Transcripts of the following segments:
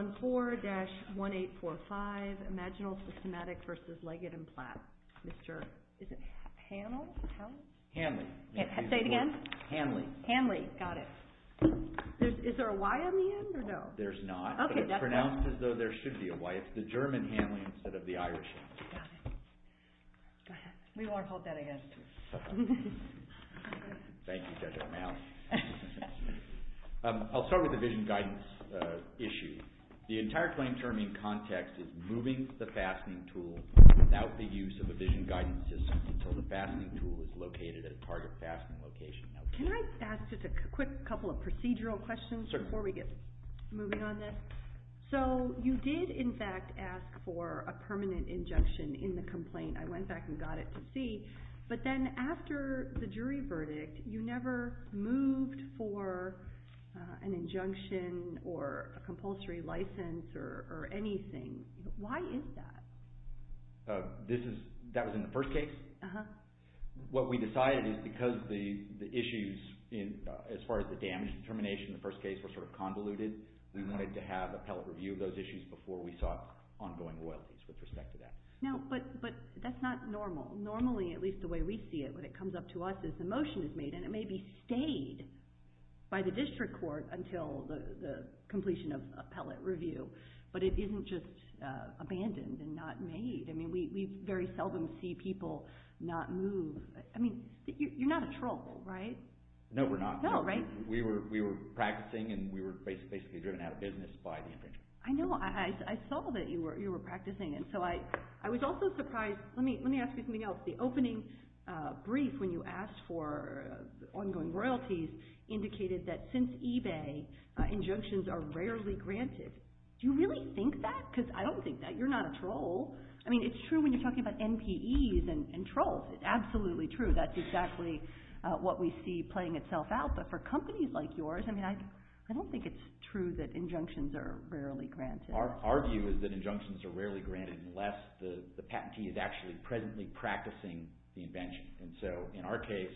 4-1845 Imaginal Systematic v. Leggett & Platt, Inc. The entire claim term in context is moving the fastening tool without the use of a vision guidance system until the fastening tool is located at a target fastening location. Can I ask just a quick couple of procedural questions before we get moving on this? Sure. You did, in fact, ask for a permanent injunction in the complaint. I went back and got it to see, but then after the jury verdict, you never moved for an injunction or a compulsory license or anything. Why is that? That was in the first case? Uh-huh. What we decided is because the issues as far as the damage determination in the first case were sort of convoluted, we wanted to have appellate review of those issues before we sought ongoing loyalties with respect to that. No, but that's not normal. Normally, at least the way we see it when it comes up to us is the motion is made, and it may be stayed by the district court until the completion of appellate review, but it isn't just abandoned and not made. I mean, we very seldom see people not move. I mean, you're not in trouble, right? No, we're not. No, right? We were practicing, and we were basically driven out of business by the infringement. I know. I saw that you were practicing, and so I was also surprised. Let me ask you something else. The opening brief when you asked for ongoing royalties indicated that since eBay, injunctions are rarely granted. Do you really think that? Because I don't think that. You're not a troll. I mean, it's true when you're talking about NPEs and trolls. It's absolutely true. That's exactly what we see playing itself out, but for companies like yours, I mean, I don't think it's true that injunctions are rarely granted. Our view is that injunctions are rarely granted unless the patentee is actually presently practicing the invention, and so in our case,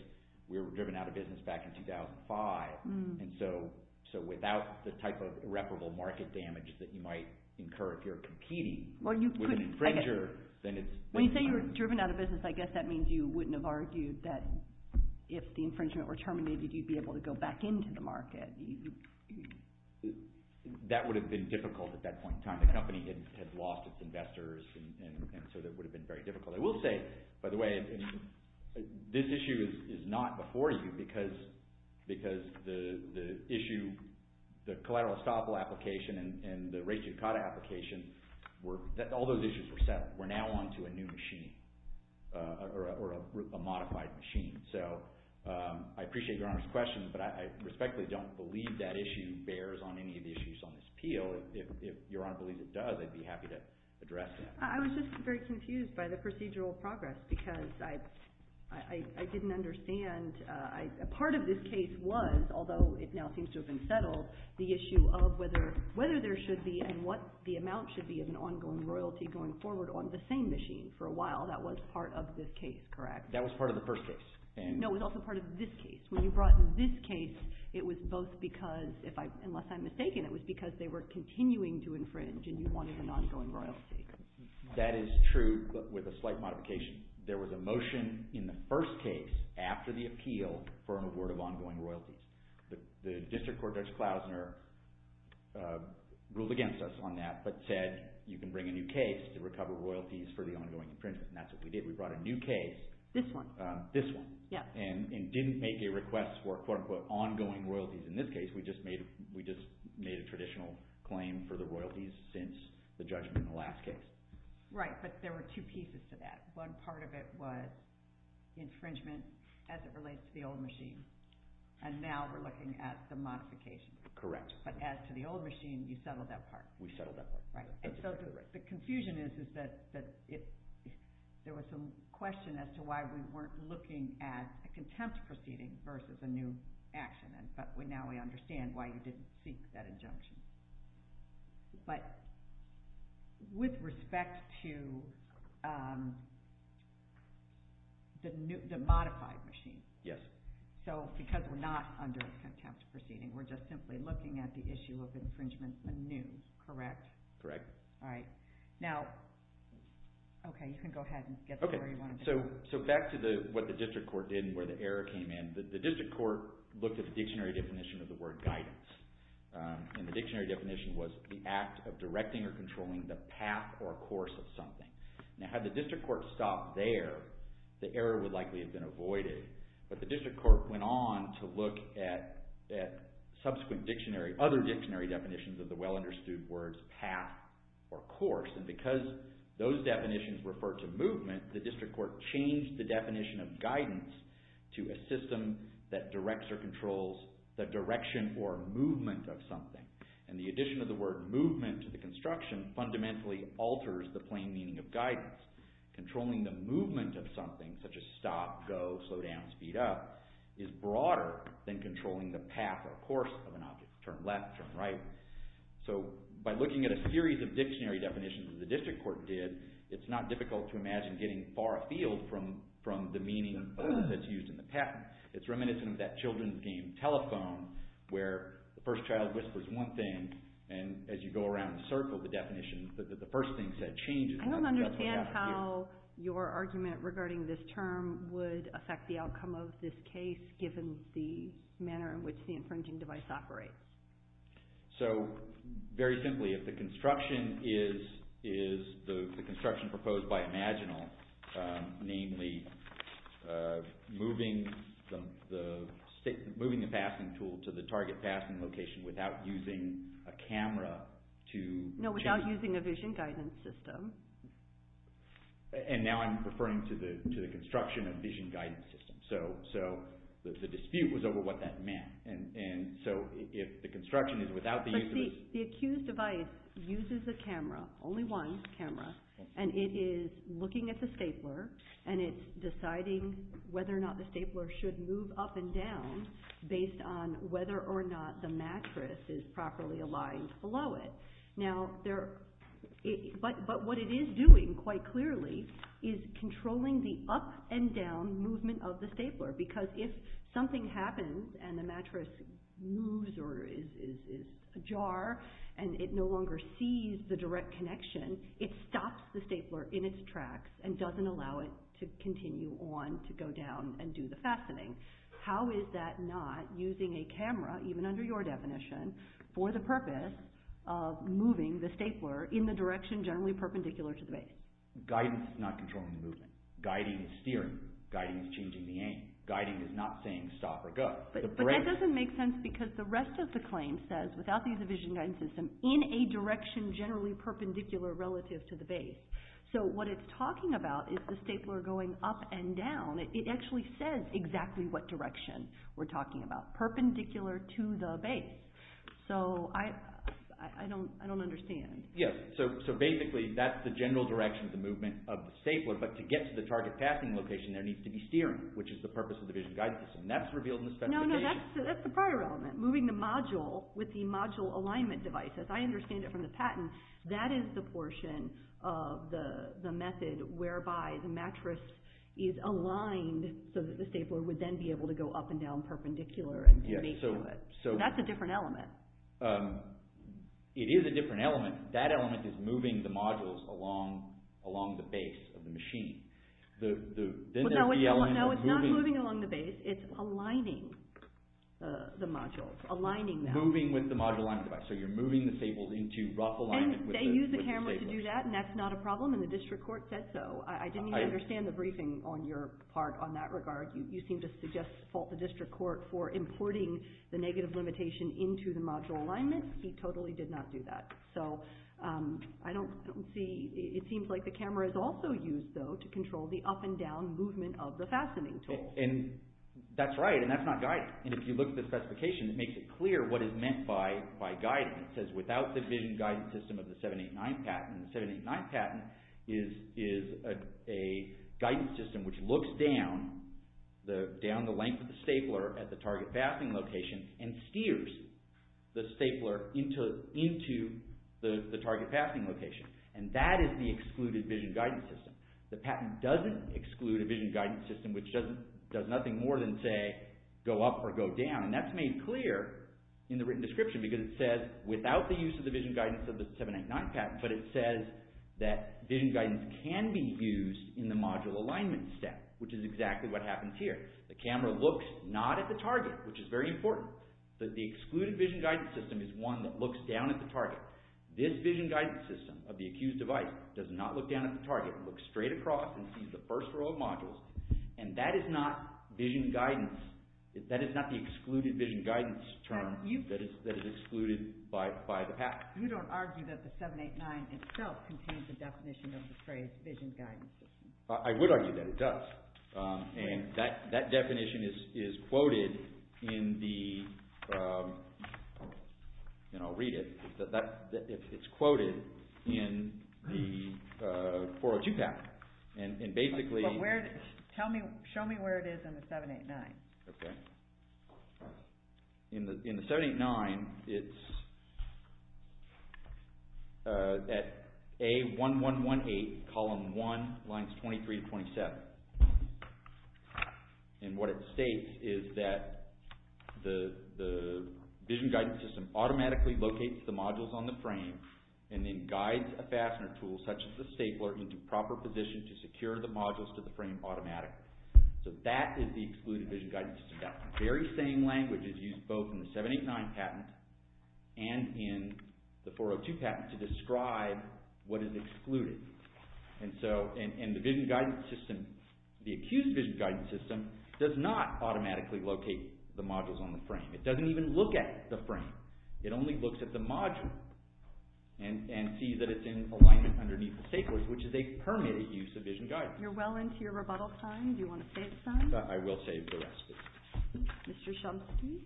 we were driven out of business back in 2005, and so without the type of irreparable market damage that you might incur if you're competing with an infringer, then it's... When you say you were driven out of business, I guess that means you wouldn't have argued that if the infringement were terminated, you'd be able to go back into the market. That would have been difficult at that point in time. The company had lost its investors, and so that would have been very difficult. I will say, by the way, this issue is not before you because the issue, the collateral estoppel application and the ratio cotta application, all those issues were settled. We're now on to a new machine or a modified machine. I appreciate Your Honor's question, but I respectfully don't believe that issue bears on any of the issues on this appeal. If Your Honor believes it does, I'd be happy to address that. I was just very confused by the procedural progress because I didn't understand. A part of this case was, although it now seems to have been settled, the issue of whether there should be and what the amount should be of an ongoing royalty going forward on the same machine. For a while, that was part of this case, correct? That was part of the first case. No, it was also part of this case. When you brought in this case, it was both because, unless I'm mistaken, it was because they were continuing to infringe and you wanted an ongoing royalty. That is true, but with a slight modification. There was a motion in the first case after the appeal for an award of ongoing royalties. The District Court Judge Klausner ruled against us on that, but said you can bring a new case to recover royalties for the ongoing infringement, and that's what we did. We brought a new case. This one. This one. Yes. And didn't make a request for quote-unquote ongoing royalties in this case. We just made a traditional claim for the royalties since the judgment in the last case. Right, but there were two pieces to that. One part of it was infringement as it relates to the old machine, and now we're looking at the modification. Correct. But as to the old machine, you settled that part. We settled that part. The confusion is that there was some question as to why we weren't looking at a contempt proceeding versus a new action, but now we understand why you didn't seek that injunction. But with respect to the modified machine, because we're not under a contempt proceeding, we're just simply looking at the issue of infringement anew. Correct? Correct. All right. Now, okay, you can go ahead and get to where you wanted to go. Okay, so back to what the district court did and where the error came in. The district court looked at the dictionary definition of the word guidance, and the dictionary definition was the act of directing or controlling the path or course of something. Now, had the district court stopped there, the error would likely have been avoided, but the district court went on to look at subsequent dictionary, other dictionary definitions of the well-understood words path or course, and because those definitions refer to movement, the district court changed the definition of guidance to a system that directs or controls the direction or movement of something, and the addition of the word movement to the construction fundamentally alters the plain meaning of guidance. Controlling the movement of something, such as stop, go, slow down, speed up, is broader than controlling the path or course of an object, turn left, turn right. So by looking at a series of dictionary definitions that the district court did, it's not difficult to imagine getting far afield from the meaning that's used in the patent. It's reminiscent of that children's game telephone, where the first child whispers one thing, and as you go around the circle, the definition, the first thing said changes. I don't understand how your argument regarding this term would affect the outcome of this case, given the manner in which the infringing device operates. So very simply, if the construction is the construction proposed by Imaginal, namely moving the passing tool to the target passing location without using a camera to... And now I'm referring to the construction of vision guidance systems. So the dispute was over what that meant. And so if the construction is without the use of... But see, the accused device uses a camera, only one camera, and it is looking at the stapler, and it's deciding whether or not the stapler should move up and down based on whether or not the mattress is properly aligned below it. But what it is doing, quite clearly, is controlling the up and down movement of the stapler, because if something happens and the mattress moves or is ajar, and it no longer sees the direct connection, it stops the stapler in its tracks and doesn't allow it to continue on to go down and do the fastening. How is that not using a camera, even under your definition, for the purpose of moving the stapler in the direction generally perpendicular to the base? Guidance is not controlling the movement. Guiding is steering. Guiding is changing the aim. Guiding is not saying stop or go. But that doesn't make sense because the rest of the claim says, without the use of vision guidance system, in a direction generally perpendicular relative to the base. So what it's talking about is the stapler going up and down. It actually says exactly what direction we're talking about. Perpendicular to the base. So, I don't understand. Yes, so basically that's the general direction of the movement of the stapler, but to get to the target passing location there needs to be steering, which is the purpose of the vision guidance system. That's revealed in the specification. No, no, that's the prior element. Moving the module with the module alignment device. As I understand it from the patent, that is the portion of the method whereby the mattress is aligned so that the stapler would then be able to go up and down perpendicular to it. So that's a different element. It is a different element. That element is moving the modules along the base of the machine. No, it's not moving along the base. It's aligning the modules. Aligning them. Moving with the module alignment device. So you're moving the staples into rough alignment with the stapler. You seem to do that, and that's not a problem, and the district court said so. I didn't even understand the briefing on your part on that regard. You seem to suggest the district court for importing the negative limitation into the module alignment. He totally did not do that. So, I don't see, it seems like the camera is also used, though, to control the up and down movement of the fastening tool. And that's right, and that's not guidance. And if you look at the specification, it makes it clear what is meant by guidance. It says, without the vision guidance system of the 789 patent. The 789 patent is a guidance system which looks down the length of the stapler at the target fastening location and steers the stapler into the target fastening location. And that is the excluded vision guidance system. The patent doesn't exclude a vision guidance system which does nothing more than, say, go up or go down. And that's made clear in the written description because it says, without the use of the vision guidance of the 789 patent, but it says that vision guidance can be used in the module alignment step, which is exactly what happens here. The camera looks not at the target, which is very important, but the excluded vision guidance system is one that looks down at the target. This vision guidance system of the accused device does not look down at the target. It looks straight across and sees the first row of modules, and that is not vision guidance. That is not the excluded vision guidance term that is excluded by the patent. You don't argue that the 789 itself contains the definition of the phrase vision guidance. I would argue that it does. And that definition is quoted in the – and I'll read it – it's quoted in the 402 patent. Show me where it is in the 789. Okay. In the 789, it's at A1118, column 1, lines 23 to 27. And what it states is that the vision guidance system automatically locates the modules on the frame and then guides a fastener tool such as the stapler into proper position to secure the modules to the frame automatically. So that is the excluded vision guidance system. That very same language is used both in the 789 patent and in the 402 patent to describe what is excluded. And so – and the vision guidance system – the accused vision guidance system does not automatically locate the modules on the frame. It doesn't even look at the frame. It only looks at the module and sees that it's in alignment underneath the staplers, which is a permitted use of vision guidance. You're well into your rebuttal time. Do you want to save time? I will save the rest of it. Mr. Shumsky.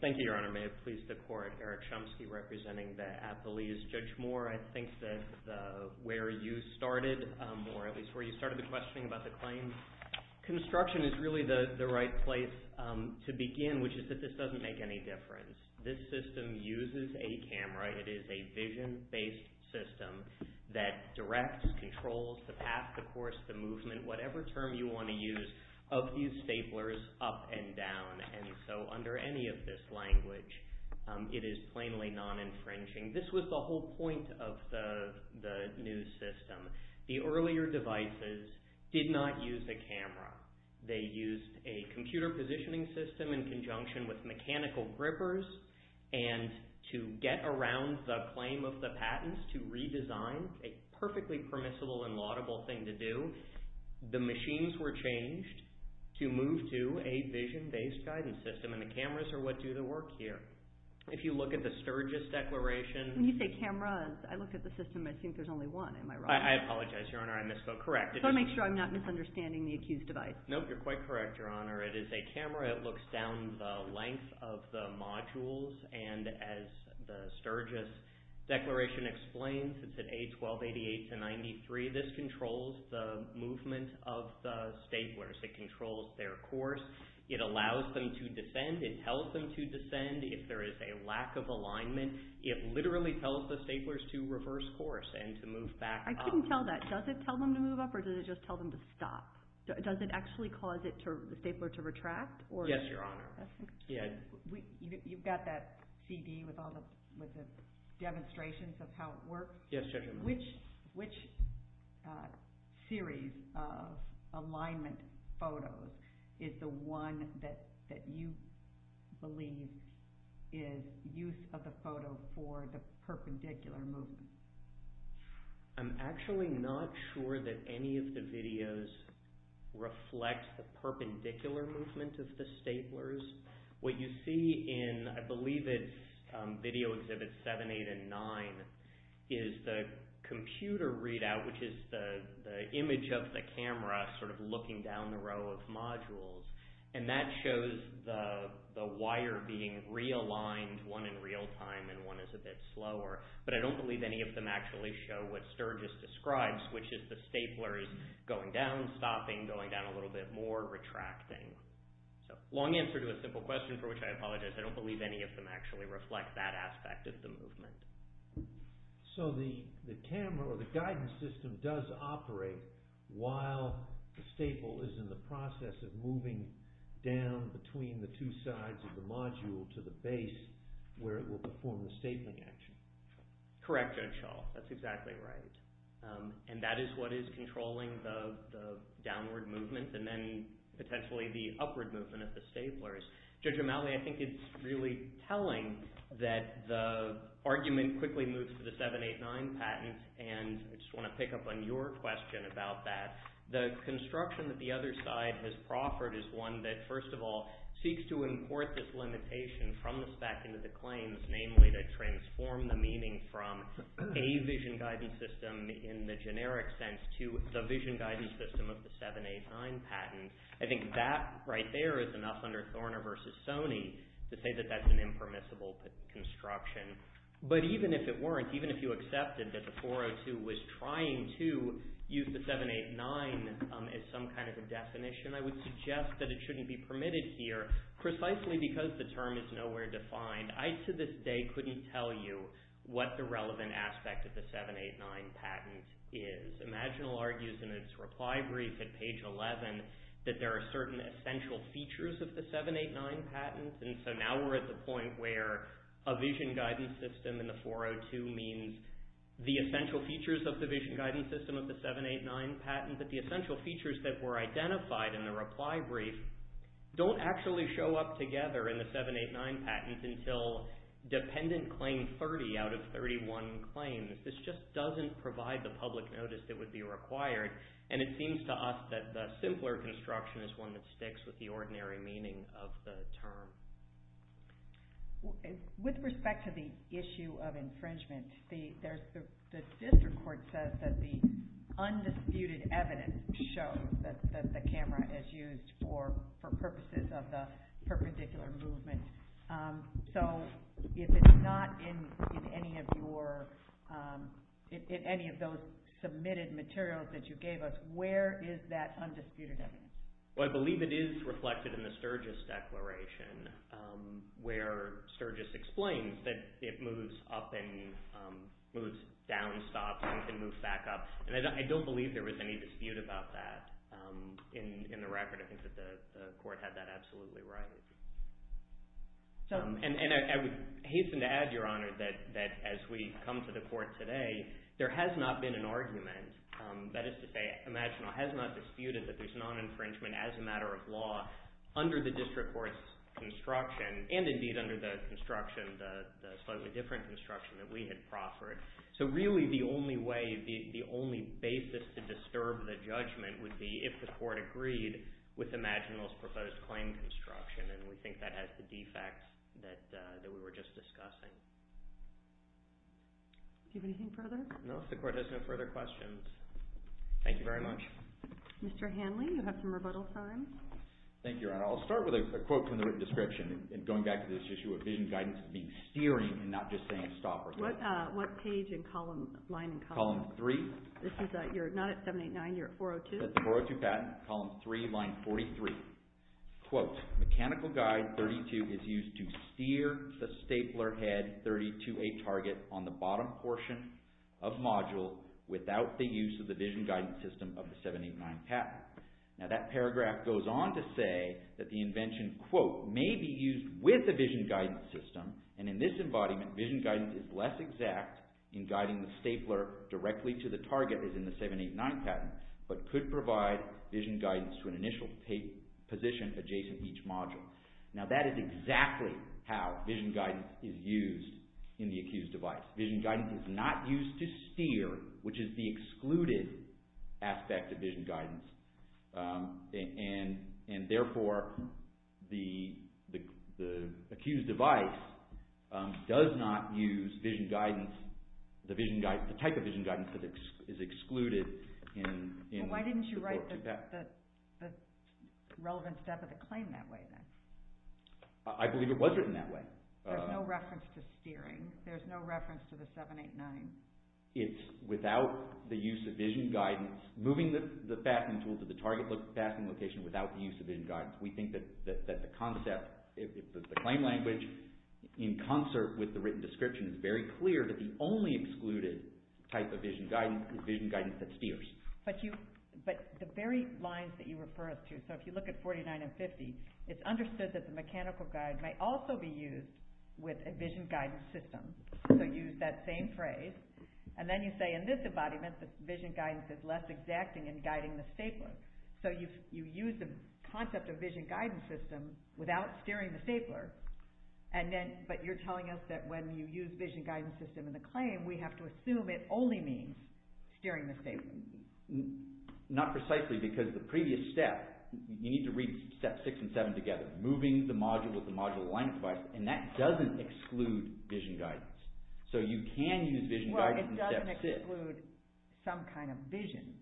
Thank you, Your Honor. May it please the Court. Eric Shumsky representing the athletes. Judge Moore, I think that where you started, or at least where you started the questioning about the claims, construction is really the right place to begin, which is that this doesn't make any difference. This system uses a camera. It is a vision-based system that directs, controls the path, the course, the movement, whatever term you want to use, of these staplers up and down. And so under any of this language, it is plainly non-infringing. This was the whole point of the new system. The earlier devices did not use a camera. They used a computer positioning system in conjunction with mechanical grippers, and to get around the claim of the patents, to redesign, a perfectly permissible and laudable thing to do, the machines were changed to move to a vision-based guidance system, and the cameras are what do the work here. If you look at the Sturgis Declaration— When you say cameras, I look at the system and I think there's only one. Am I wrong? I apologize, Your Honor. I misspoke. Correct. I just want to make sure I'm not misunderstanding the accused device. No, you're quite correct, Your Honor. It is a camera. It looks down the length of the modules, and as the Sturgis Declaration explains, it's at A1288-93. This controls the movement of the staplers. It controls their course. It allows them to descend. It tells them to descend. If there is a lack of alignment, it literally tells the staplers to reverse course and to move back up. I couldn't tell that. Does it tell them to move up, or does it just tell them to stop? Does it actually cause the stapler to retract? Yes, Your Honor. You've got that CD with all the demonstrations of how it works. Yes, Judge. Which series of alignment photos is the one that you believe is use of the photo for the perpendicular movement? I'm actually not sure that any of the videos reflect the perpendicular movement of the staplers. What you see in, I believe it's Video Exhibits 7, 8, and 9, is the computer readout, which is the image of the camera sort of looking down the row of modules, and that shows the wire being realigned, one in real time and one is a bit slower. But I don't believe any of them actually show what Sturgis describes, which is the staplers going down, stopping, going down a little bit more, retracting. Long answer to a simple question for which I apologize. I don't believe any of them actually reflect that aspect of the movement. So the camera, or the guidance system, does operate while the staple is in the process of moving down from between the two sides of the module to the base where it will perform the stapling action. Correct, Judge Hull. That's exactly right, and that is what is controlling the downward movement and then potentially the upward movement of the staplers. Judge O'Malley, I think it's really telling that the argument quickly moves to the 7, 8, 9 patent, and I just want to pick up on your question about that. The construction that the other side has proffered is one that, first of all, seeks to import this limitation from the spec into the claims, namely to transform the meaning from a vision guidance system in the generic sense to the vision guidance system of the 7, 8, 9 patent. I think that right there is enough under Thorner v. Sony to say that that's an impermissible construction. But even if it weren't, even if you accepted that the 402 was trying to use the 7, 8, 9 as some kind of a definition, I would suggest that it shouldn't be permitted here precisely because the term is nowhere defined. I, to this day, couldn't tell you what the relevant aspect of the 7, 8, 9 patent is. Imaginal argues in its reply brief at page 11 that there are certain essential features of the 7, 8, 9 patents, and so now we're at the point where a vision guidance system in the 402 means the essential features of the vision guidance system of the 7, 8, 9 patent, but the essential features that were identified in the reply brief don't actually show up together in the 7, 8, 9 patent until dependent claim 30 out of 31 claims. This just doesn't provide the public notice that would be required, and it seems to us that the simpler construction is one that sticks with the ordinary meaning of the term. With respect to the issue of infringement, the district court says that the undisputed evidence shows that the camera is used for purposes of the perpendicular movement. So, if it's not in any of those submitted materials that you gave us, where is that undisputed evidence? Well, I believe it is reflected in the Sturgis Declaration, where Sturgis explains that it moves up and moves down stops and can move back up, and I don't believe there was any dispute about that in the record. I think that the court had that absolutely right. And I would hasten to add, Your Honor, that as we come to the court today, there has not been an argument, that is to say, Imaginal has not disputed that there's non-infringement as a matter of law under the district court's construction, and indeed under the construction, the slightly different construction that we had proffered. So, really, the only way, the only basis to disturb the judgment would be if the court agreed with Imaginal's proposed claim construction, and we think that has the defects that we were just discussing. Do you have anything further? No, the court has no further questions. Thank you very much. Mr. Hanley, you have some rebuttal time. Thank you, Your Honor. I'll start with a quote from the written description, and going back to this issue of vision guidance being steering and not just saying stop. What page and column, line and column? Column 3. This is, you're not at 789, you're at 402? This is at the 402 patent, column 3, line 43. Quote, mechanical guide 32 is used to steer the stapler head 30 to a target on the bottom portion of module without the use of the vision guidance system of the 789 patent. Now, that paragraph goes on to say that the invention, quote, may be used with a vision guidance system, and in this embodiment, vision guidance is less exact in guiding the stapler directly to the target as in the 789 patent, but could provide vision guidance to an initial position adjacent to each module. Now, that is exactly how vision guidance is used in the accused device. Vision guidance is not used to steer, which is the excluded aspect of vision guidance, and therefore, the accused device does not use vision guidance, the type of vision guidance that is excluded. Why didn't you write the relevant step of the claim that way then? I believe it was written that way. There's no reference to steering. There's no reference to the 789. It's without the use of vision guidance, moving the fastening tool to the target fastening location without the use of vision guidance. We think that the concept, the claim language in concert with the written description is very clear that the only excluded type of vision guidance is vision guidance that steers. But the very lines that you refer us to, so if you look at 49 and 50, it's understood that the mechanical guide may also be used with a vision guidance system. So use that same phrase, and then you say in this embodiment, the vision guidance is less exact in guiding the stapler. So you use the concept of vision guidance system without steering the stapler, but you're telling us that when you use vision guidance system in the claim, we have to assume it only means steering the stapler. Not precisely because the previous step, you need to read steps 6 and 7 together, moving the module with the module alignment device, and that doesn't exclude vision guidance. So you can use vision guidance in step 6. Well, it doesn't exclude some kind of vision,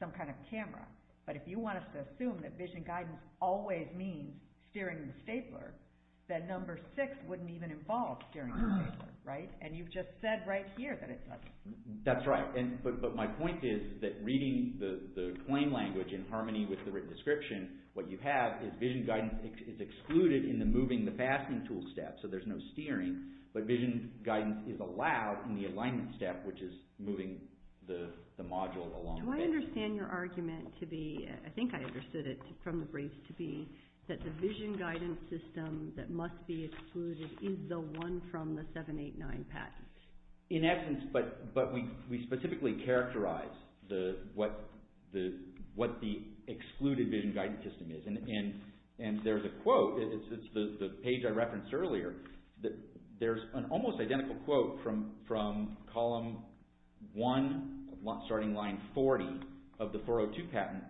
some kind of camera. But if you want us to assume that vision guidance always means steering the stapler, then number 6 wouldn't even involve steering the stapler, right? And you've just said right here that it doesn't. That's right, but my point is that reading the claim language in harmony with the written description, what you have is vision guidance is excluded in the moving the fastening tool step, so there's no steering, but vision guidance is allowed in the alignment step, which is moving the module along the face. Do I understand your argument to be, I think I understood it from the briefs to be, that the vision guidance system that must be excluded is the one from the 789 patent? In essence, but we specifically characterize what the excluded vision guidance system is, and there's a quote, it's the page I referenced earlier, there's an almost identical quote from column 1, starting line 40 of the 402 patent,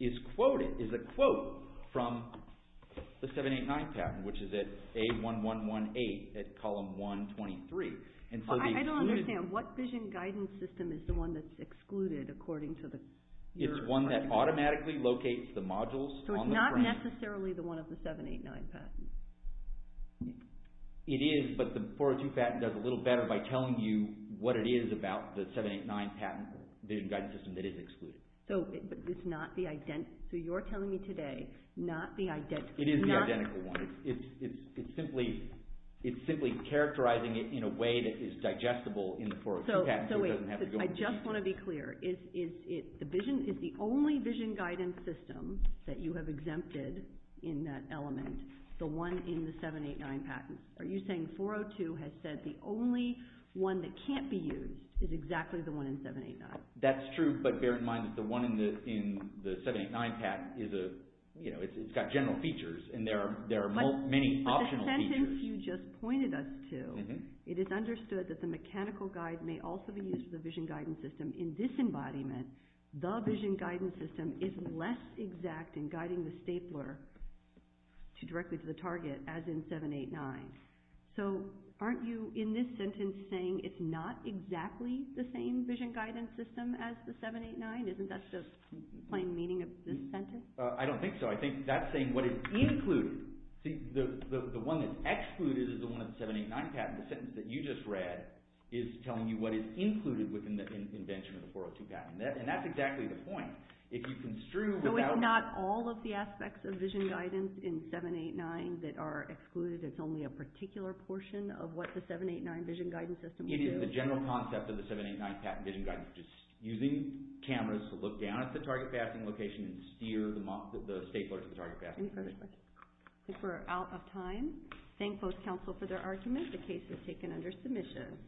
is quoted, is a quote from the 789 patent, which is at A1118 at column 123. I don't understand, what vision guidance system is the one that's excluded according to your argument? It's one that automatically locates the modules on the frame. So it's not necessarily the one of the 789 patent? It is, but the 402 patent does a little better by telling you what it is about the 789 patent, the vision guidance system that is excluded. So you're telling me today, not the identical one? It is the identical one. It's simply characterizing it in a way that is digestible in the 402 patent. So wait, I just want to be clear. Is the only vision guidance system that you have exempted in that element the one in the 789 patent? Are you saying 402 has said the only one that can't be used is exactly the one in 789? That's true, but bear in mind that the one in the 789 patent, it's got general features, and there are many optional features. But the sentence you just pointed us to, it is understood that the mechanical guide may also be used for the vision guidance system. In this embodiment, the vision guidance system is less exact in guiding the stapler directly to the target, as in 789. So aren't you, in this sentence, saying it's not exactly the same vision guidance system as the 789? Isn't that just plain meaning of this sentence? I don't think so. I think that's saying what is included. The one that's excluded is the one in the 789 patent. The sentence that you just read is telling you what is included within the invention of the 402 patent. And that's exactly the point. So it's not all of the aspects of vision guidance in 789 that are excluded? It's only a particular portion of what the 789 vision guidance system will do? It is the general concept of the 789 patent vision guidance, which is using cameras to look down at the target passing location and steer the stapler to the target passing location. Perfect. I think we're out of time. Thank both counsel for their arguments. The case is taken under submission.